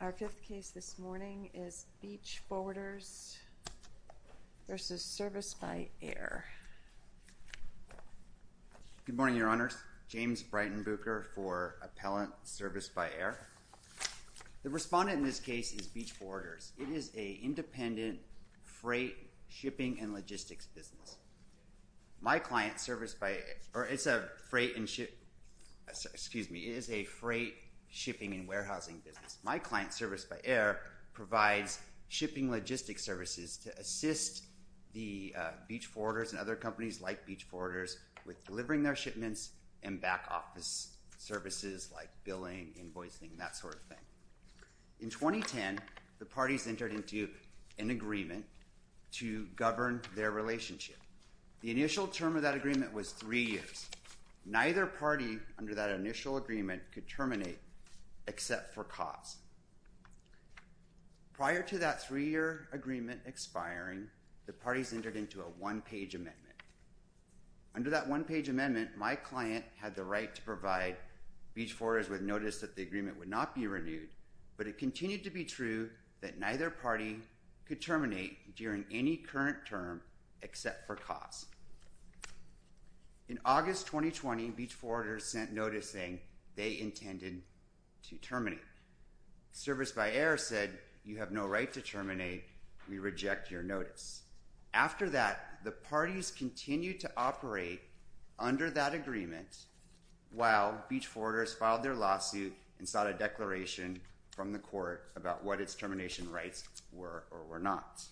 Our fifth case this morning is Beach Forwarders v. Service By Air. Good morning, Your Honors. James Brighten Booker for Appellant Service By Air. The respondent in this case is Beach Forwarders. It is an independent freight, shipping, and logistics business. My client, Service By Air, is a freight, shipping, and warehousing business. My client, Service By Air, provides shipping logistics services to assist the Beach Forwarders and other companies like Beach Forwarders with delivering their shipments and back office services like billing, invoicing, and that sort of thing. In 2010, the parties entered into an agreement to govern their relationship. The initial term of that agreement was three years. Neither party under that initial agreement could terminate except for cost. Prior to that three-year agreement expiring, the parties entered into a one-page amendment. Under that one-page amendment, my client had the right to provide Beach Forwarders with notice that the agreement would not be renewed, but it continued to be true that neither party could terminate during any current term except for cost. In August 2020, Beach Forwarders sent notice saying they intended to terminate. Service By Air said, you have no right to terminate. We reject your notice. After that, the parties continued to operate under that agreement while Beach Forwarders filed their lawsuit and sought a declaration from the court about what its termination rights were or were not.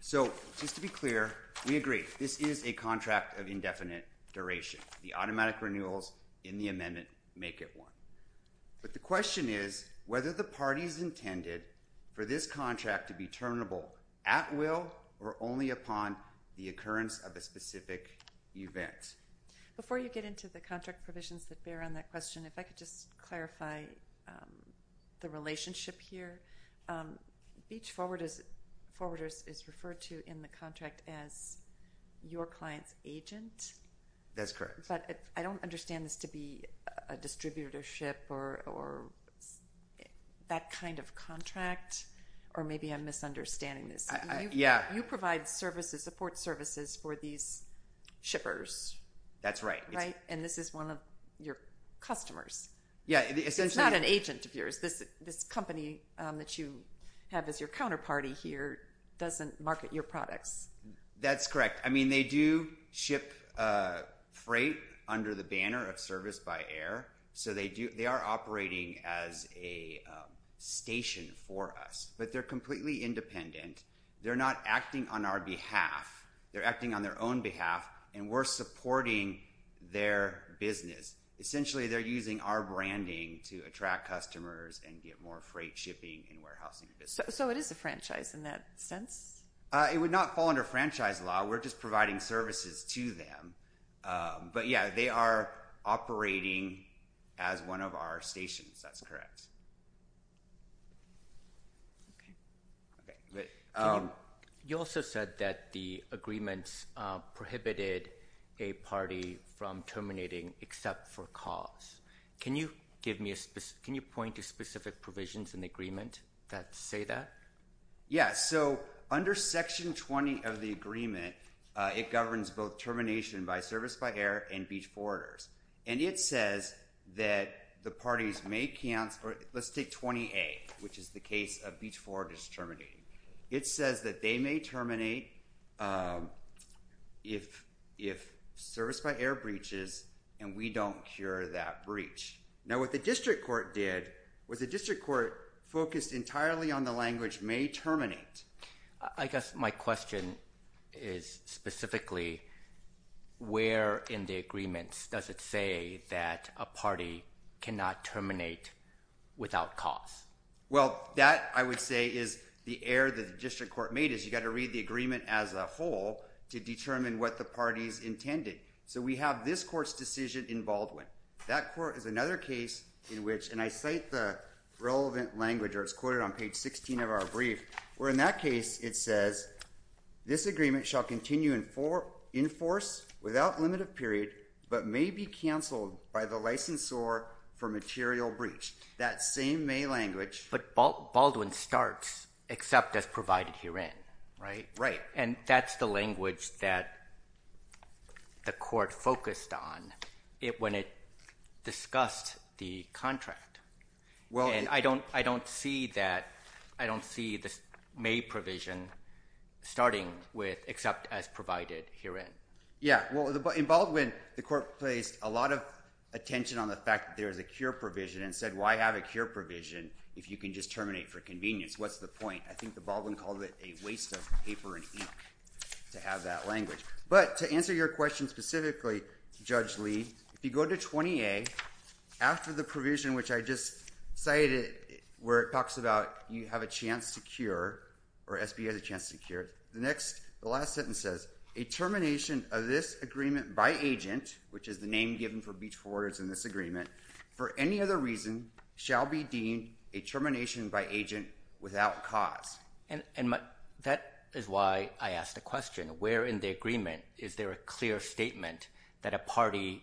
So, just to be clear, we agree. This is a contract of indefinite duration. The automatic renewals in the amendment make it one. But the question is whether the parties intended for this contract to be terminable at will or only upon the occurrence of a specific event. Before you get into the contract provisions that bear on that question, if I could just clarify the relationship here. Beach Forwarders is referred to in the contract as your client's agent. That's correct. But I don't understand this to be a distributorship or that kind of contract, or maybe I'm misunderstanding this. You provide support services for these shippers. That's right. And this is one of your customers. It's not an agent of yours. This company that you have as your counterparty here doesn't market your products. That's correct. I mean, they do ship freight under the banner of Service By Air. So, they are operating as a station for us. But they're completely independent. They're not acting on our behalf. They're acting on their own behalf, and we're supporting their business. Essentially, they're using our branding to attract customers and get more freight shipping and warehousing. So, it is a franchise in that sense? It would not fall under franchise law. We're just providing services to them. But, yeah, they are operating as one of our stations. That's correct. You also said that the agreements prohibited a party from terminating except for cause. Can you point to specific provisions in the agreement that say that? Yeah, so under Section 20 of the agreement, it governs both termination by Service By Air and beach forwarders. And it says that the parties may cancel. Let's take 20A, which is the case of beach forwarders terminating. It says that they may terminate if Service By Air breaches and we don't cure that breach. Now, what the district court did was the district court focused entirely on the language may terminate. I guess my question is specifically where in the agreements does it say that a party cannot terminate without cause? Well, that, I would say, is the error that the district court made. You've got to read the agreement as a whole to determine what the parties intended. So, we have this court's decision in Baldwin. That court is another case in which, and I cite the relevant language, or it's quoted on page 16 of our brief, where in that case it says, this agreement shall continue in force without limit of period, but may be canceled by the licensor for material breach. That same may language. But Baldwin starts except as provided herein, right? Right. And that's the language that the court focused on when it discussed the contract. And I don't see that, I don't see this may provision starting with except as provided herein. Yeah. Well, in Baldwin, the court placed a lot of attention on the fact that there is a cure provision and said why have a cure provision if you can just terminate for convenience? What's the point? I think the Baldwin called it a waste of paper and ink to have that language. But to answer your question specifically, Judge Lee, if you go to 20A, after the provision which I just cited where it talks about you have a chance to cure, or SBA has a chance to cure, the last sentence says, a termination of this agreement by agent, which is the name given for breach of orders in this agreement, for any other reason shall be deemed a termination by agent without cause. And that is why I asked the question, where in the agreement is there a clear statement that a party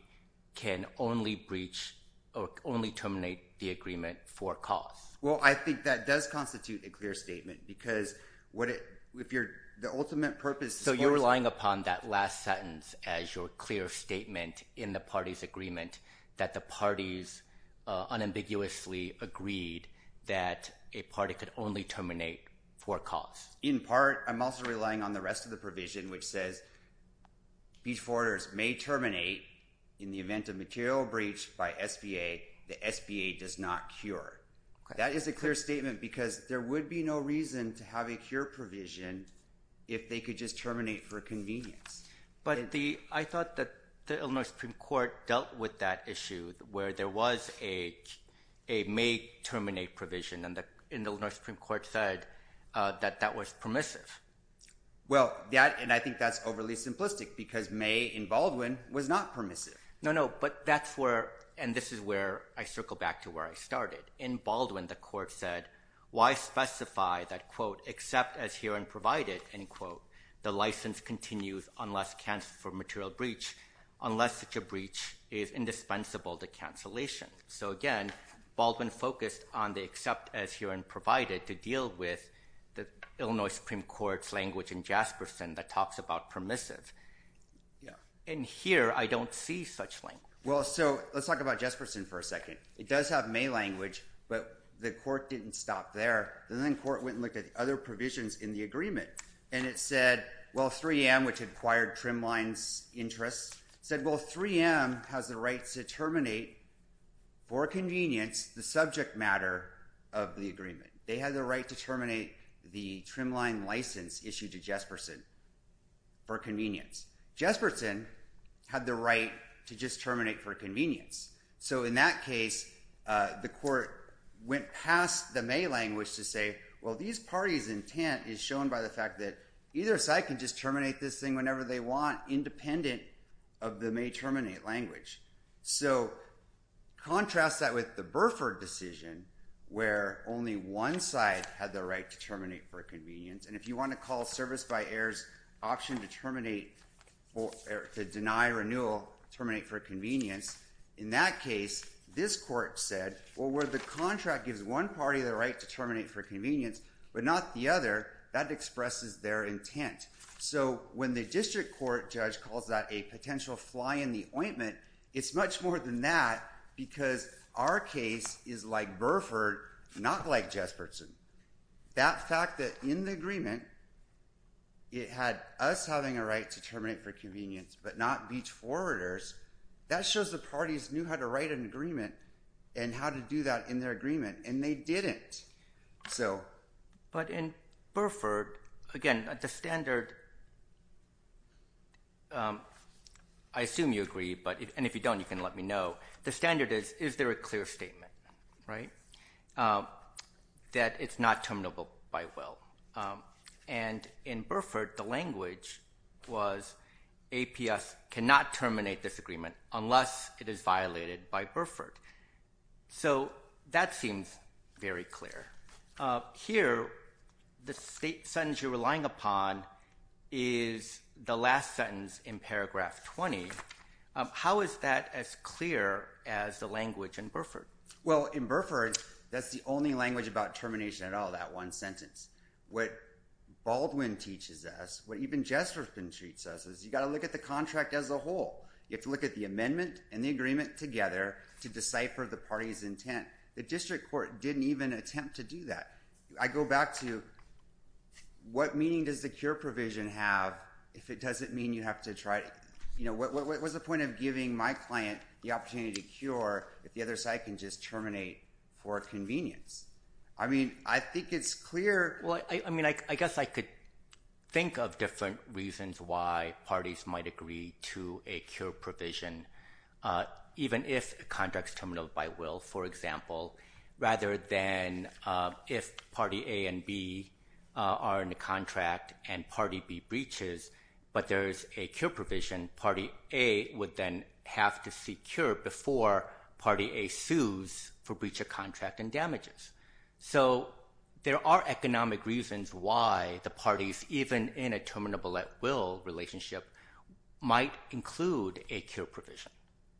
can only breach or only terminate the agreement for cause? Well, I think that does constitute a clear statement because what it, if you're, the ultimate purpose. So you're relying upon that last sentence as your clear statement in the party's agreement that the parties unambiguously agreed that a party could only terminate for cause. In part, I'm also relying on the rest of the provision which says, breach of orders may terminate in the event of material breach by SBA. The SBA does not cure. That is a clear statement because there would be no reason to have a cure provision if they could just terminate for convenience. But the, I thought that the Illinois Supreme Court dealt with that issue where there was a, they may terminate provision and the Illinois Supreme Court said that that was permissive. Well, that, and I think that's overly simplistic because may in Baldwin was not permissive. No, no, but that's where, and this is where I circle back to where I started. In Baldwin, the court said, why specify that, quote, except as herein provided, end quote, the license continues unless canceled for material breach, unless such a breach is indispensable to cancellation. So again, Baldwin focused on the except as herein provided to deal with the Illinois Supreme Court's language in Jasperson that talks about permissive. And here, I don't see such language. Well, so let's talk about Jasperson for a second. It does have may language, but the court didn't stop there. And then the court went and looked at the other provisions in the agreement. And it said, well, 3M, which had acquired Trimline's interests, said, well, 3M has the right to terminate for convenience the subject matter of the agreement. They had the right to terminate the Trimline license issued to Jasperson for convenience. Jasperson had the right to just terminate for convenience. So in that case, the court went past the may language to say, well, these parties' intent is shown by the fact that either side can just terminate this thing whenever they want, independent of the may terminate language. So contrast that with the Burford decision, where only one side had the right to terminate for convenience. And if you want to call service by heirs option to terminate or to deny renewal, terminate for convenience, in that case, this court said, well, where the contract gives one party the right to terminate for convenience, but not the other, that expresses their intent. So when the district court judge calls that a potential fly in the ointment, it's much more than that, because our case is like Burford, not like Jasperson. That fact that in the agreement, it had us having a right to terminate for convenience, but not beach forwarders, that shows the parties knew how to write an agreement and how to do that in their agreement, and they didn't. But in Burford, again, the standard, I assume you agree. And if you don't, you can let me know. The standard is, is there a clear statement that it's not terminable by will? And in Burford, the language was APS cannot terminate this agreement unless it is violated by Burford. So that seems very clear. Here, the sentence you're relying upon is the last sentence in paragraph 20. How is that as clear as the language in Burford? Well, in Burford, that's the only language about termination at all, that one sentence. What Baldwin teaches us, what even Jasperson treats us, is you've got to look at the contract as a whole. You have to look at the amendment and the agreement together to decipher the party's intent. The district court didn't even attempt to do that. I go back to what meaning does the cure provision have if it doesn't mean you have to try it? What's the point of giving my client the opportunity to cure if the other side can just terminate for convenience? I mean, I think it's clear. Well, I mean, I guess I could think of different reasons why parties might agree to a cure provision, even if a contract's terminable by will, for example, rather than if Party A and B are in a contract and Party B breaches, but there is a cure provision, Party A would then have to seek cure before Party A sues for breach of contract and damages. So there are economic reasons why the parties, even in a terminable at will relationship, might include a cure provision.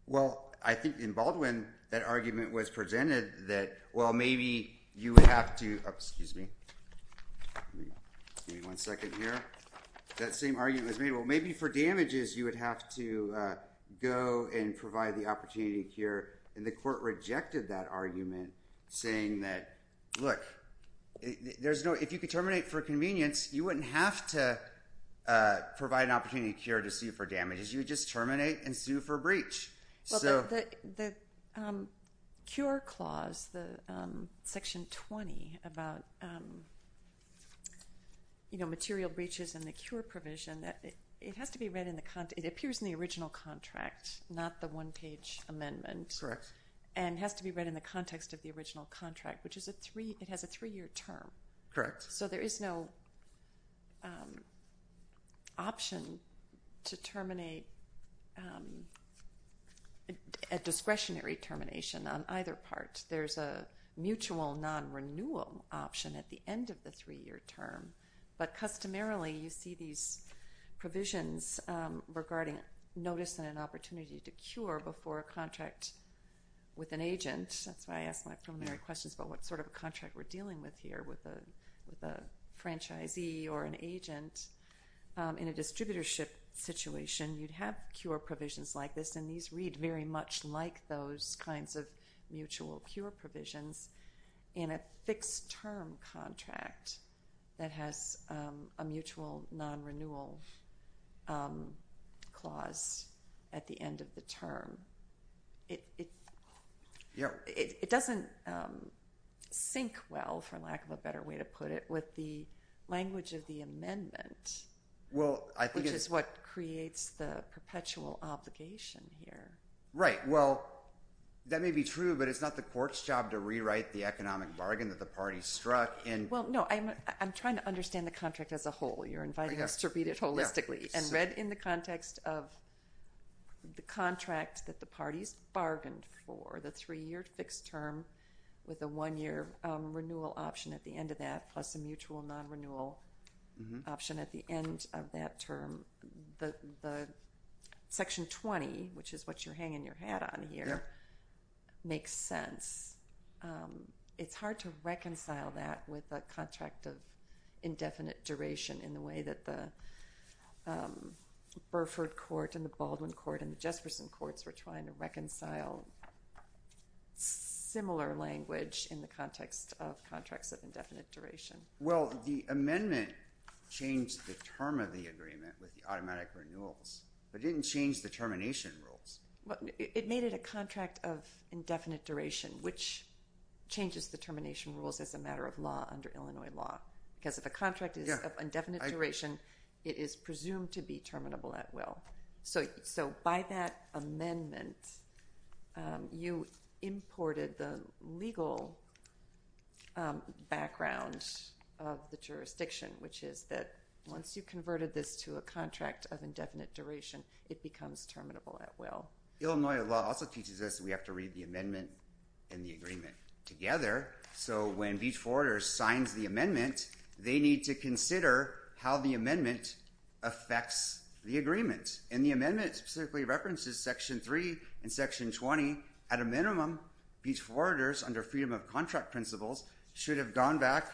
Well, I think in Baldwin that argument was presented that, well, maybe you would have to – excuse me. Give me one second here. That same argument was made, well, maybe for damages you would have to go and provide the opportunity to cure, and the court rejected that argument saying that, look, if you could terminate for convenience, you wouldn't have to provide an opportunity to cure to sue for damages. You would just terminate and sue for a breach. Well, the cure clause, the Section 20 about material breaches and the cure provision, it appears in the original contract, not the one-page amendment. Correct. And it has to be read in the context of the original contract, which it has a three-year term. Correct. So there is no option to terminate a discretionary termination on either part. There's a mutual non-renewal option at the end of the three-year term, but customarily you see these provisions regarding notice and an opportunity to cure before a contract with an agent. That's why I ask my preliminary questions about what sort of contract we're dealing with here with a franchisee or an agent. In a distributorship situation, you'd have cure provisions like this, and these read very much like those kinds of mutual cure provisions in a fixed-term contract that has a mutual non-renewal clause at the end of the term. It doesn't sync well, for lack of a better way to put it, with the language of the amendment, which is what creates the perpetual obligation here. Right. Well, that may be true, but it's not the court's job to rewrite the economic bargain that the party struck. Well, no. I'm trying to understand the contract as a whole. You're inviting us to read it holistically and read in the context of the contract that the party's bargained for, the three-year fixed term with a one-year renewal option at the end of that, plus a mutual non-renewal option at the end of that term. Section 20, which is what you're hanging your hat on here, makes sense. It's hard to reconcile that with a contract of indefinite duration in the way that the Burford court and the Baldwin court and the Jesperson courts were trying to reconcile similar language in the context of contracts of indefinite duration. Well, the amendment changed the term of the agreement with the automatic renewals, but it didn't change the termination rules. It made it a contract of indefinite duration, which changes the termination rules as a matter of law under Illinois law, because if a contract is of indefinite duration, it is presumed to be terminable at will. So by that amendment, you imported the legal background of the jurisdiction, which is that once you converted this to a contract of indefinite duration, it becomes terminable at will. Illinois law also teaches us we have to read the amendment and the agreement together. So when beach forwarders signs the amendment, they need to consider how the amendment affects the agreement. And the amendment specifically references Section 3 and Section 20. At a minimum, beach forwarders under freedom of contract principles should have gone back,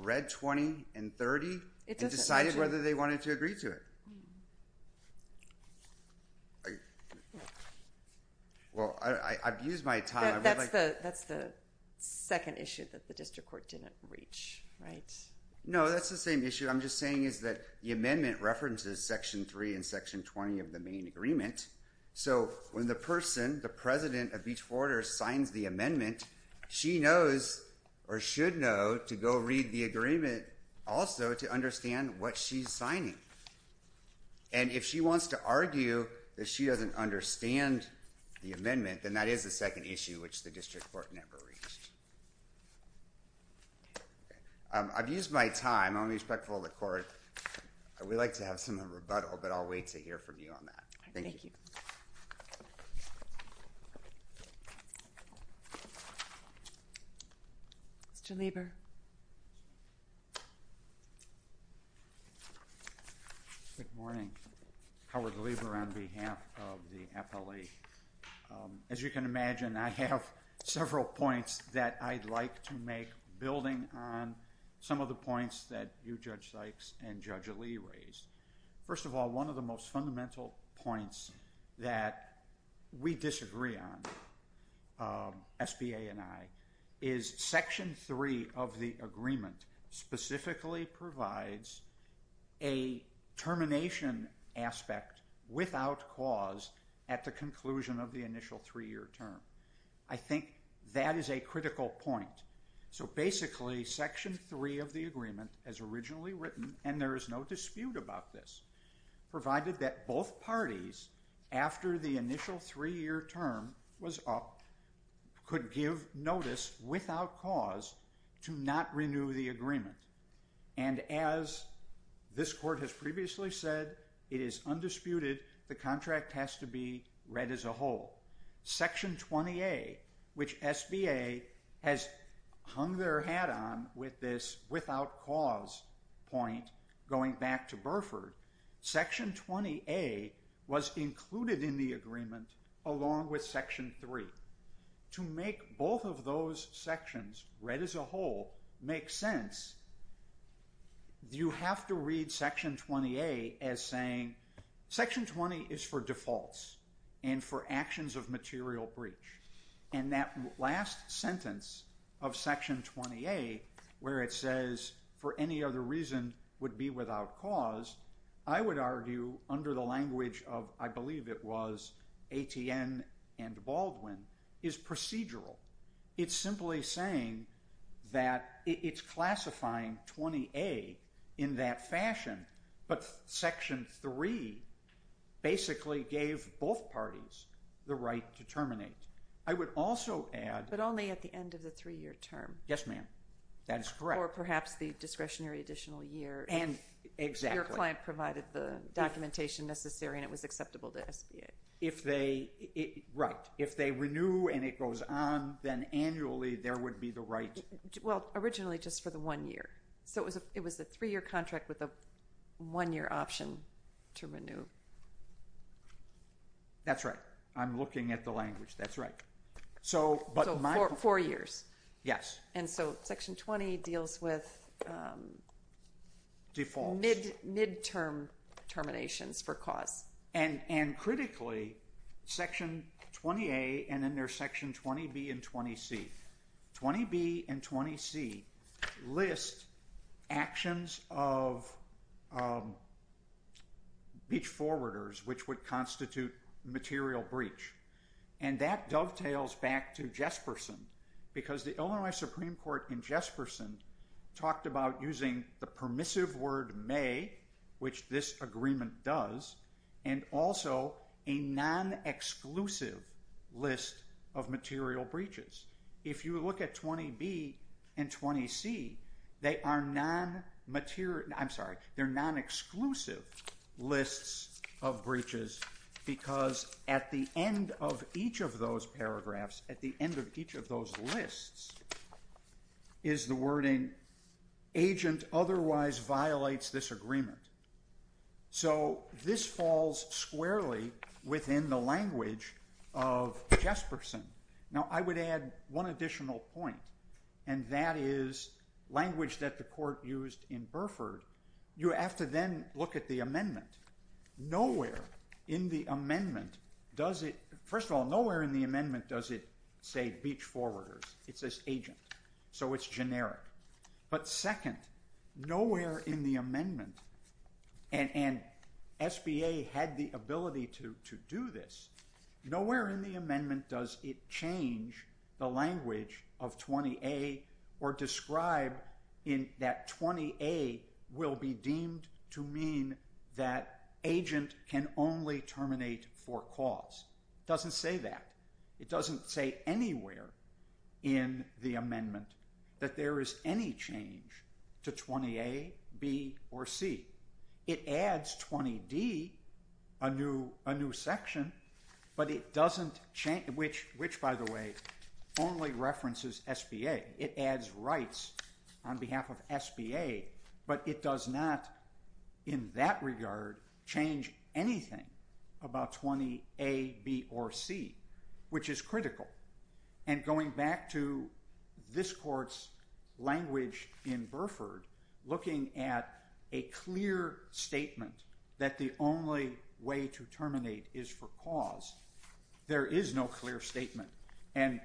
read 20 and 30, and decided whether they wanted to agree to it. Well, I've used my time. That's the second issue that the district court didn't reach, right? No, that's the same issue. I'm just saying is that the amendment references Section 3 and Section 20 of the main agreement. So when the person, the president of beach forwarders, signs the amendment, she knows or should know to go read the agreement also to understand what she's signing. And if she wants to argue that she doesn't understand the amendment, then that is the second issue which the district court never reached. I've used my time. I'm respectful of the court. We'd like to have some rebuttal, but I'll wait to hear from you on that. Thank you. Mr. Lieber. Good morning. Howard Lieber on behalf of the appellee. As you can imagine, I have several points that I'd like to make, building on some of the points that you, Judge Sykes, and Judge Ali raised. First of all, one of the most fundamental points that we disagree on, SBA and I, is Section 3 of the agreement specifically provides a termination aspect without cause at the conclusion of the initial three-year term. I think that is a critical point. So basically, Section 3 of the agreement, as originally written, and there is no dispute about this, provided that both parties, after the initial three-year term was up, could give notice without cause to not renew the agreement. And as this court has previously said, it is undisputed. The contract has to be read as a whole. Section 20A, which SBA has hung their hat on with this without cause point, going back to Burford, Section 20A was included in the agreement along with Section 3. To make both of those sections read as a whole make sense, you have to read Section 20A as saying, Section 20 is for defaults and for actions of material breach. And that last sentence of Section 20A, where it says, for any other reason would be without cause, I would argue, under the language of, I believe it was, ATN and Baldwin, is procedural. It's simply saying that it's classifying 20A in that fashion, but Section 3 basically gave both parties the right to terminate. I would also add... But only at the end of the three-year term. Yes, ma'am. That is correct. Or perhaps the discretionary additional year. Exactly. If your client provided the documentation necessary and it was acceptable to SBA. Right. If they renew and it goes on, then annually there would be the right... Well, originally just for the one year. So it was a three-year contract with a one-year option to renew. That's right. I'm looking at the language. That's right. So four years. Yes. And so Section 20 deals with... Defaults. Mid-term terminations for cause. And critically, Section 20A and then there's Section 20B and 20C. 20B and 20C list actions of breach forwarders which would constitute material breach. And that dovetails back to Jesperson because the Illinois Supreme Court in Jesperson talked about using the permissive word may, which this agreement does, and also a non-exclusive list of material breaches. If you look at 20B and 20C, they are non-material... I'm sorry, they're non-exclusive lists of breaches because at the end of each of those paragraphs, at the end of each of those lists, is the wording agent otherwise violates this agreement. So this falls squarely within the language of Jesperson. Now, I would add one additional point, and that is language that the court used in Burford. You have to then look at the amendment. Nowhere in the amendment does it... First of all, nowhere in the amendment does it say breach forwarders. It says agent, so it's generic. But second, nowhere in the amendment... And SBA had the ability to do this. Nowhere in the amendment does it change the language of 20A or describe in that 20A will be deemed to mean that agent can only terminate for cause. It doesn't say that. It doesn't say anywhere in the amendment that there is any change to 20A, B, or C. It adds 20D, a new section, but it doesn't change... Which, by the way, only references SBA. It adds rights on behalf of SBA, but it does not in that regard change anything about 20A, B, or C. Which is critical. And going back to this court's language in Burford, looking at a clear statement that the only way to terminate is for cause, there is no clear statement. And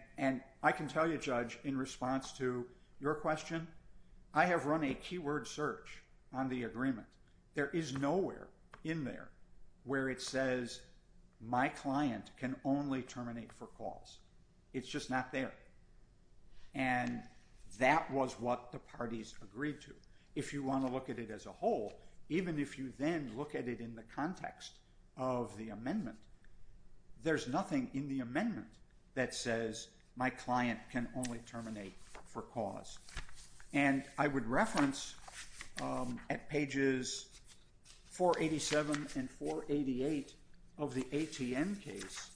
I can tell you, Judge, in response to your question, I have run a keyword search on the agreement. There is nowhere in there where it says my client can only terminate for cause. It's just not there. And that was what the parties agreed to. If you want to look at it as a whole, even if you then look at it in the context of the amendment, there's nothing in the amendment that says my client can only terminate for cause. And I would reference, at pages 487 and 488 of the ATN case,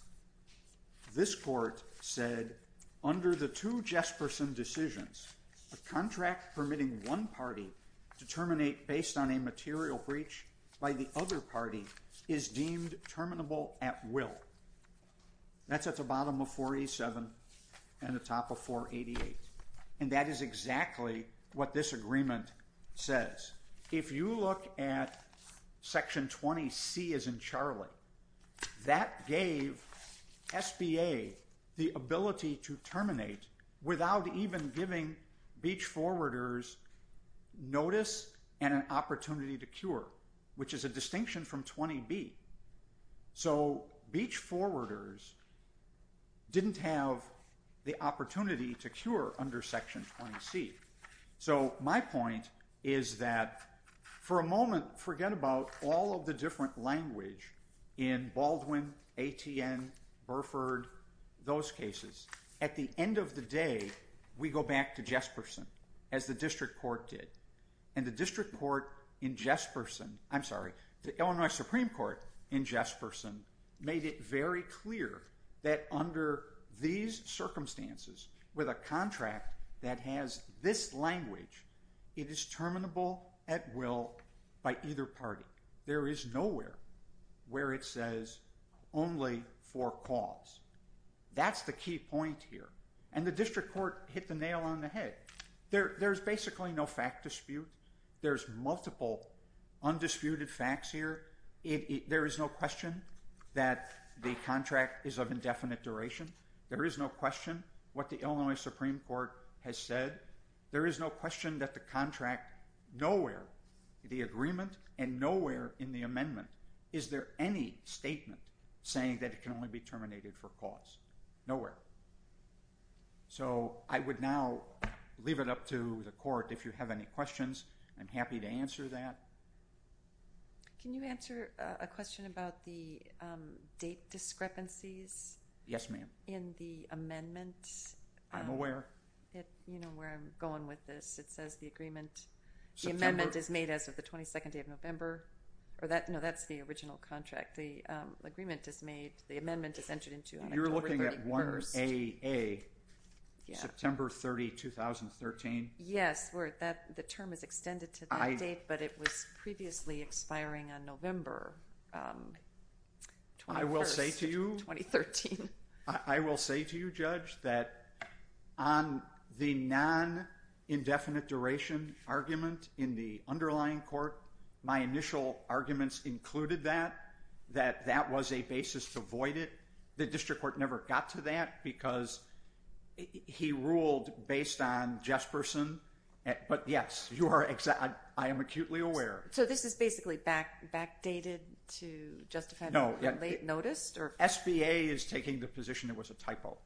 this court said, under the two Jesperson decisions, a contract permitting one party to terminate based on a material breach by the other party is deemed terminable at will. That's at the bottom of 487 and the top of 488. And that is exactly what this agreement says. If you look at Section 20C as in Charlie, that gave SBA the ability to terminate without even giving beach forwarders notice and an opportunity to cure, which is a distinction from 20B. So beach forwarders didn't have the opportunity to cure under Section 20C. So my point is that, for a moment, forget about all of the different language in Baldwin, ATN, Burford, those cases. At the end of the day, we go back to Jesperson, as the district court did. And the district court in Jesperson... I'm sorry, the Illinois Supreme Court in Jesperson made it very clear that under these circumstances, with a contract that has this language, it is terminable at will by either party. There is nowhere where it says only for cause. That's the key point here. And the district court hit the nail on the head. There's basically no fact dispute. There's multiple undisputed facts here. There is no question that the contract is of indefinite duration. There is no question what the Illinois Supreme Court has said. There is no question that the contract nowhere, the agreement, and nowhere in the amendment, is there any statement saying that it can only be terminated for cause. Nowhere. So I would now leave it up to the court. If you have any questions, I'm happy to answer that. Can you answer a question about the date discrepancies? Yes, ma'am. In the amendment? I'm aware. You know where I'm going with this. It says the amendment is made as of the 22nd day of November. No, that's the original contract. The agreement is made, the amendment is entered into on October 31st. You're looking at 1AA, September 30, 2013? Yes. The term is extended to that date, but it was previously expiring on November 21st, 2013. I will say to you, Judge, that on the non-indefinite duration argument in the underlying court, my initial arguments included that, that that was a basis to void it. The district court never got to that because he ruled based on Jesperson. But, yes, I am acutely aware. So this is basically backdated to justify? No, SBA is taking the position it was a typo.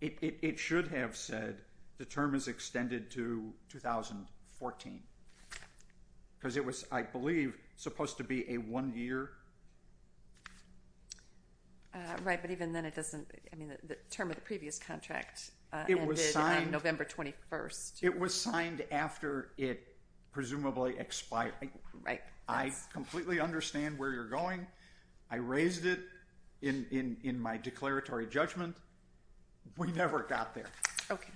It should have said the term is extended to 2014 because it was, I believe, supposed to be a one-year. Right, but even then it doesn't, I mean the term of the previous contract ended on November 21st. It was signed after it presumably expired. Right. I completely understand where you're going. I raised it in my declaratory judgment. We never got there. Okay.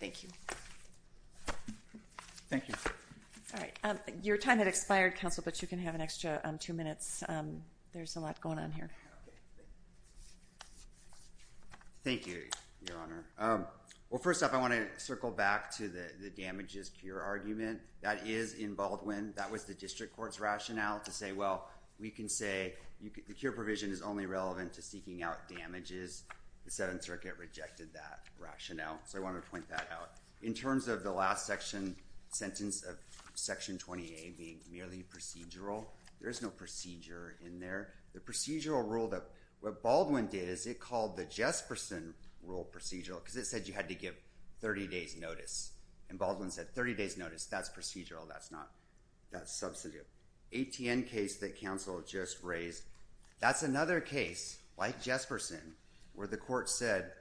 Thank you. Thank you. All right. Your time had expired, Counsel, but you can have an extra two minutes. There's a lot going on here. Thank you, Your Honor. Well, first off, I want to circle back to the damages to your argument. That is in Baldwin. That was the district court's rationale to say, well, we can say, the cure provision is only relevant to seeking out damages. The Seventh Circuit rejected that rationale. So I want to point that out. In terms of the last sentence of Section 20A being merely procedural, there is no procedure in there. The procedural rule that Baldwin did is it called the Jesperson rule procedural because it said you had to give 30 days notice. And Baldwin said 30 days notice. That's procedural. That's not substantive. ATN case that Counsel just raised, that's another case, like Jesperson, where the court said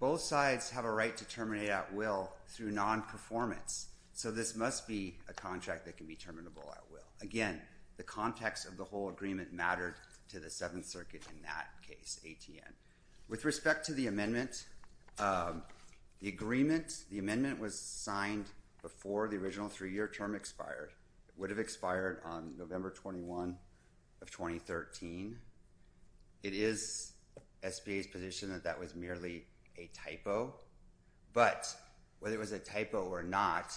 both sides have a right to terminate at will through non-performance. So this must be a contract that can be terminable at will. Again, the context of the whole agreement mattered to the Seventh Circuit in that case, ATN. With respect to the amendment, the agreement, the amendment was signed before the original three-year term expired. It would have expired on November 21 of 2013. It is SBA's position that that was merely a typo. But whether it was a typo or not,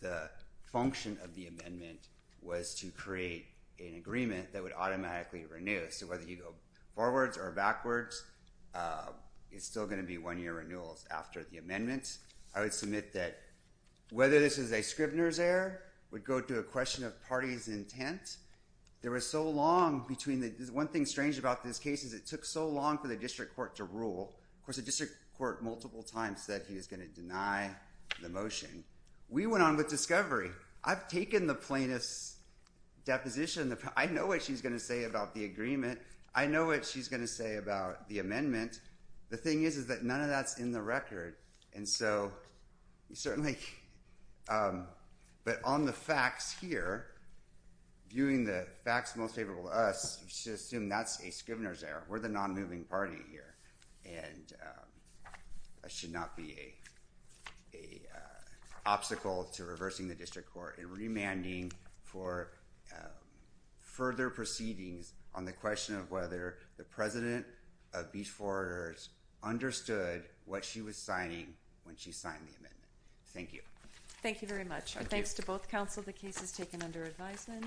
the function of the amendment was to create an agreement that would automatically renew. So whether you go forwards or backwards, it's still going to be one-year renewals after the amendment. I would submit that whether this is a Scribner's error would go to a question of party's intent. There was so long between the, one thing strange about this case is it took so long for the district court to rule. Of course, the district court multiple times said he was going to deny the motion. We went on with discovery. I've taken the plaintiff's deposition. I know what she's going to say about the agreement. I know what she's going to say about the amendment. The thing is, is that none of that's in the record. And so. Certainly. But on the facts here. Viewing the facts most favorable to us. She assumed that's a Scribner's error. We're the non-moving party here. And I should not be a. A obstacle to reversing the district court and remanding for. Further proceedings on the question of whether the president. Before. Understood what she was signing. When she signed the amendment. Thank you. Thank you very much. Thanks to both council. The case is taken under advisement.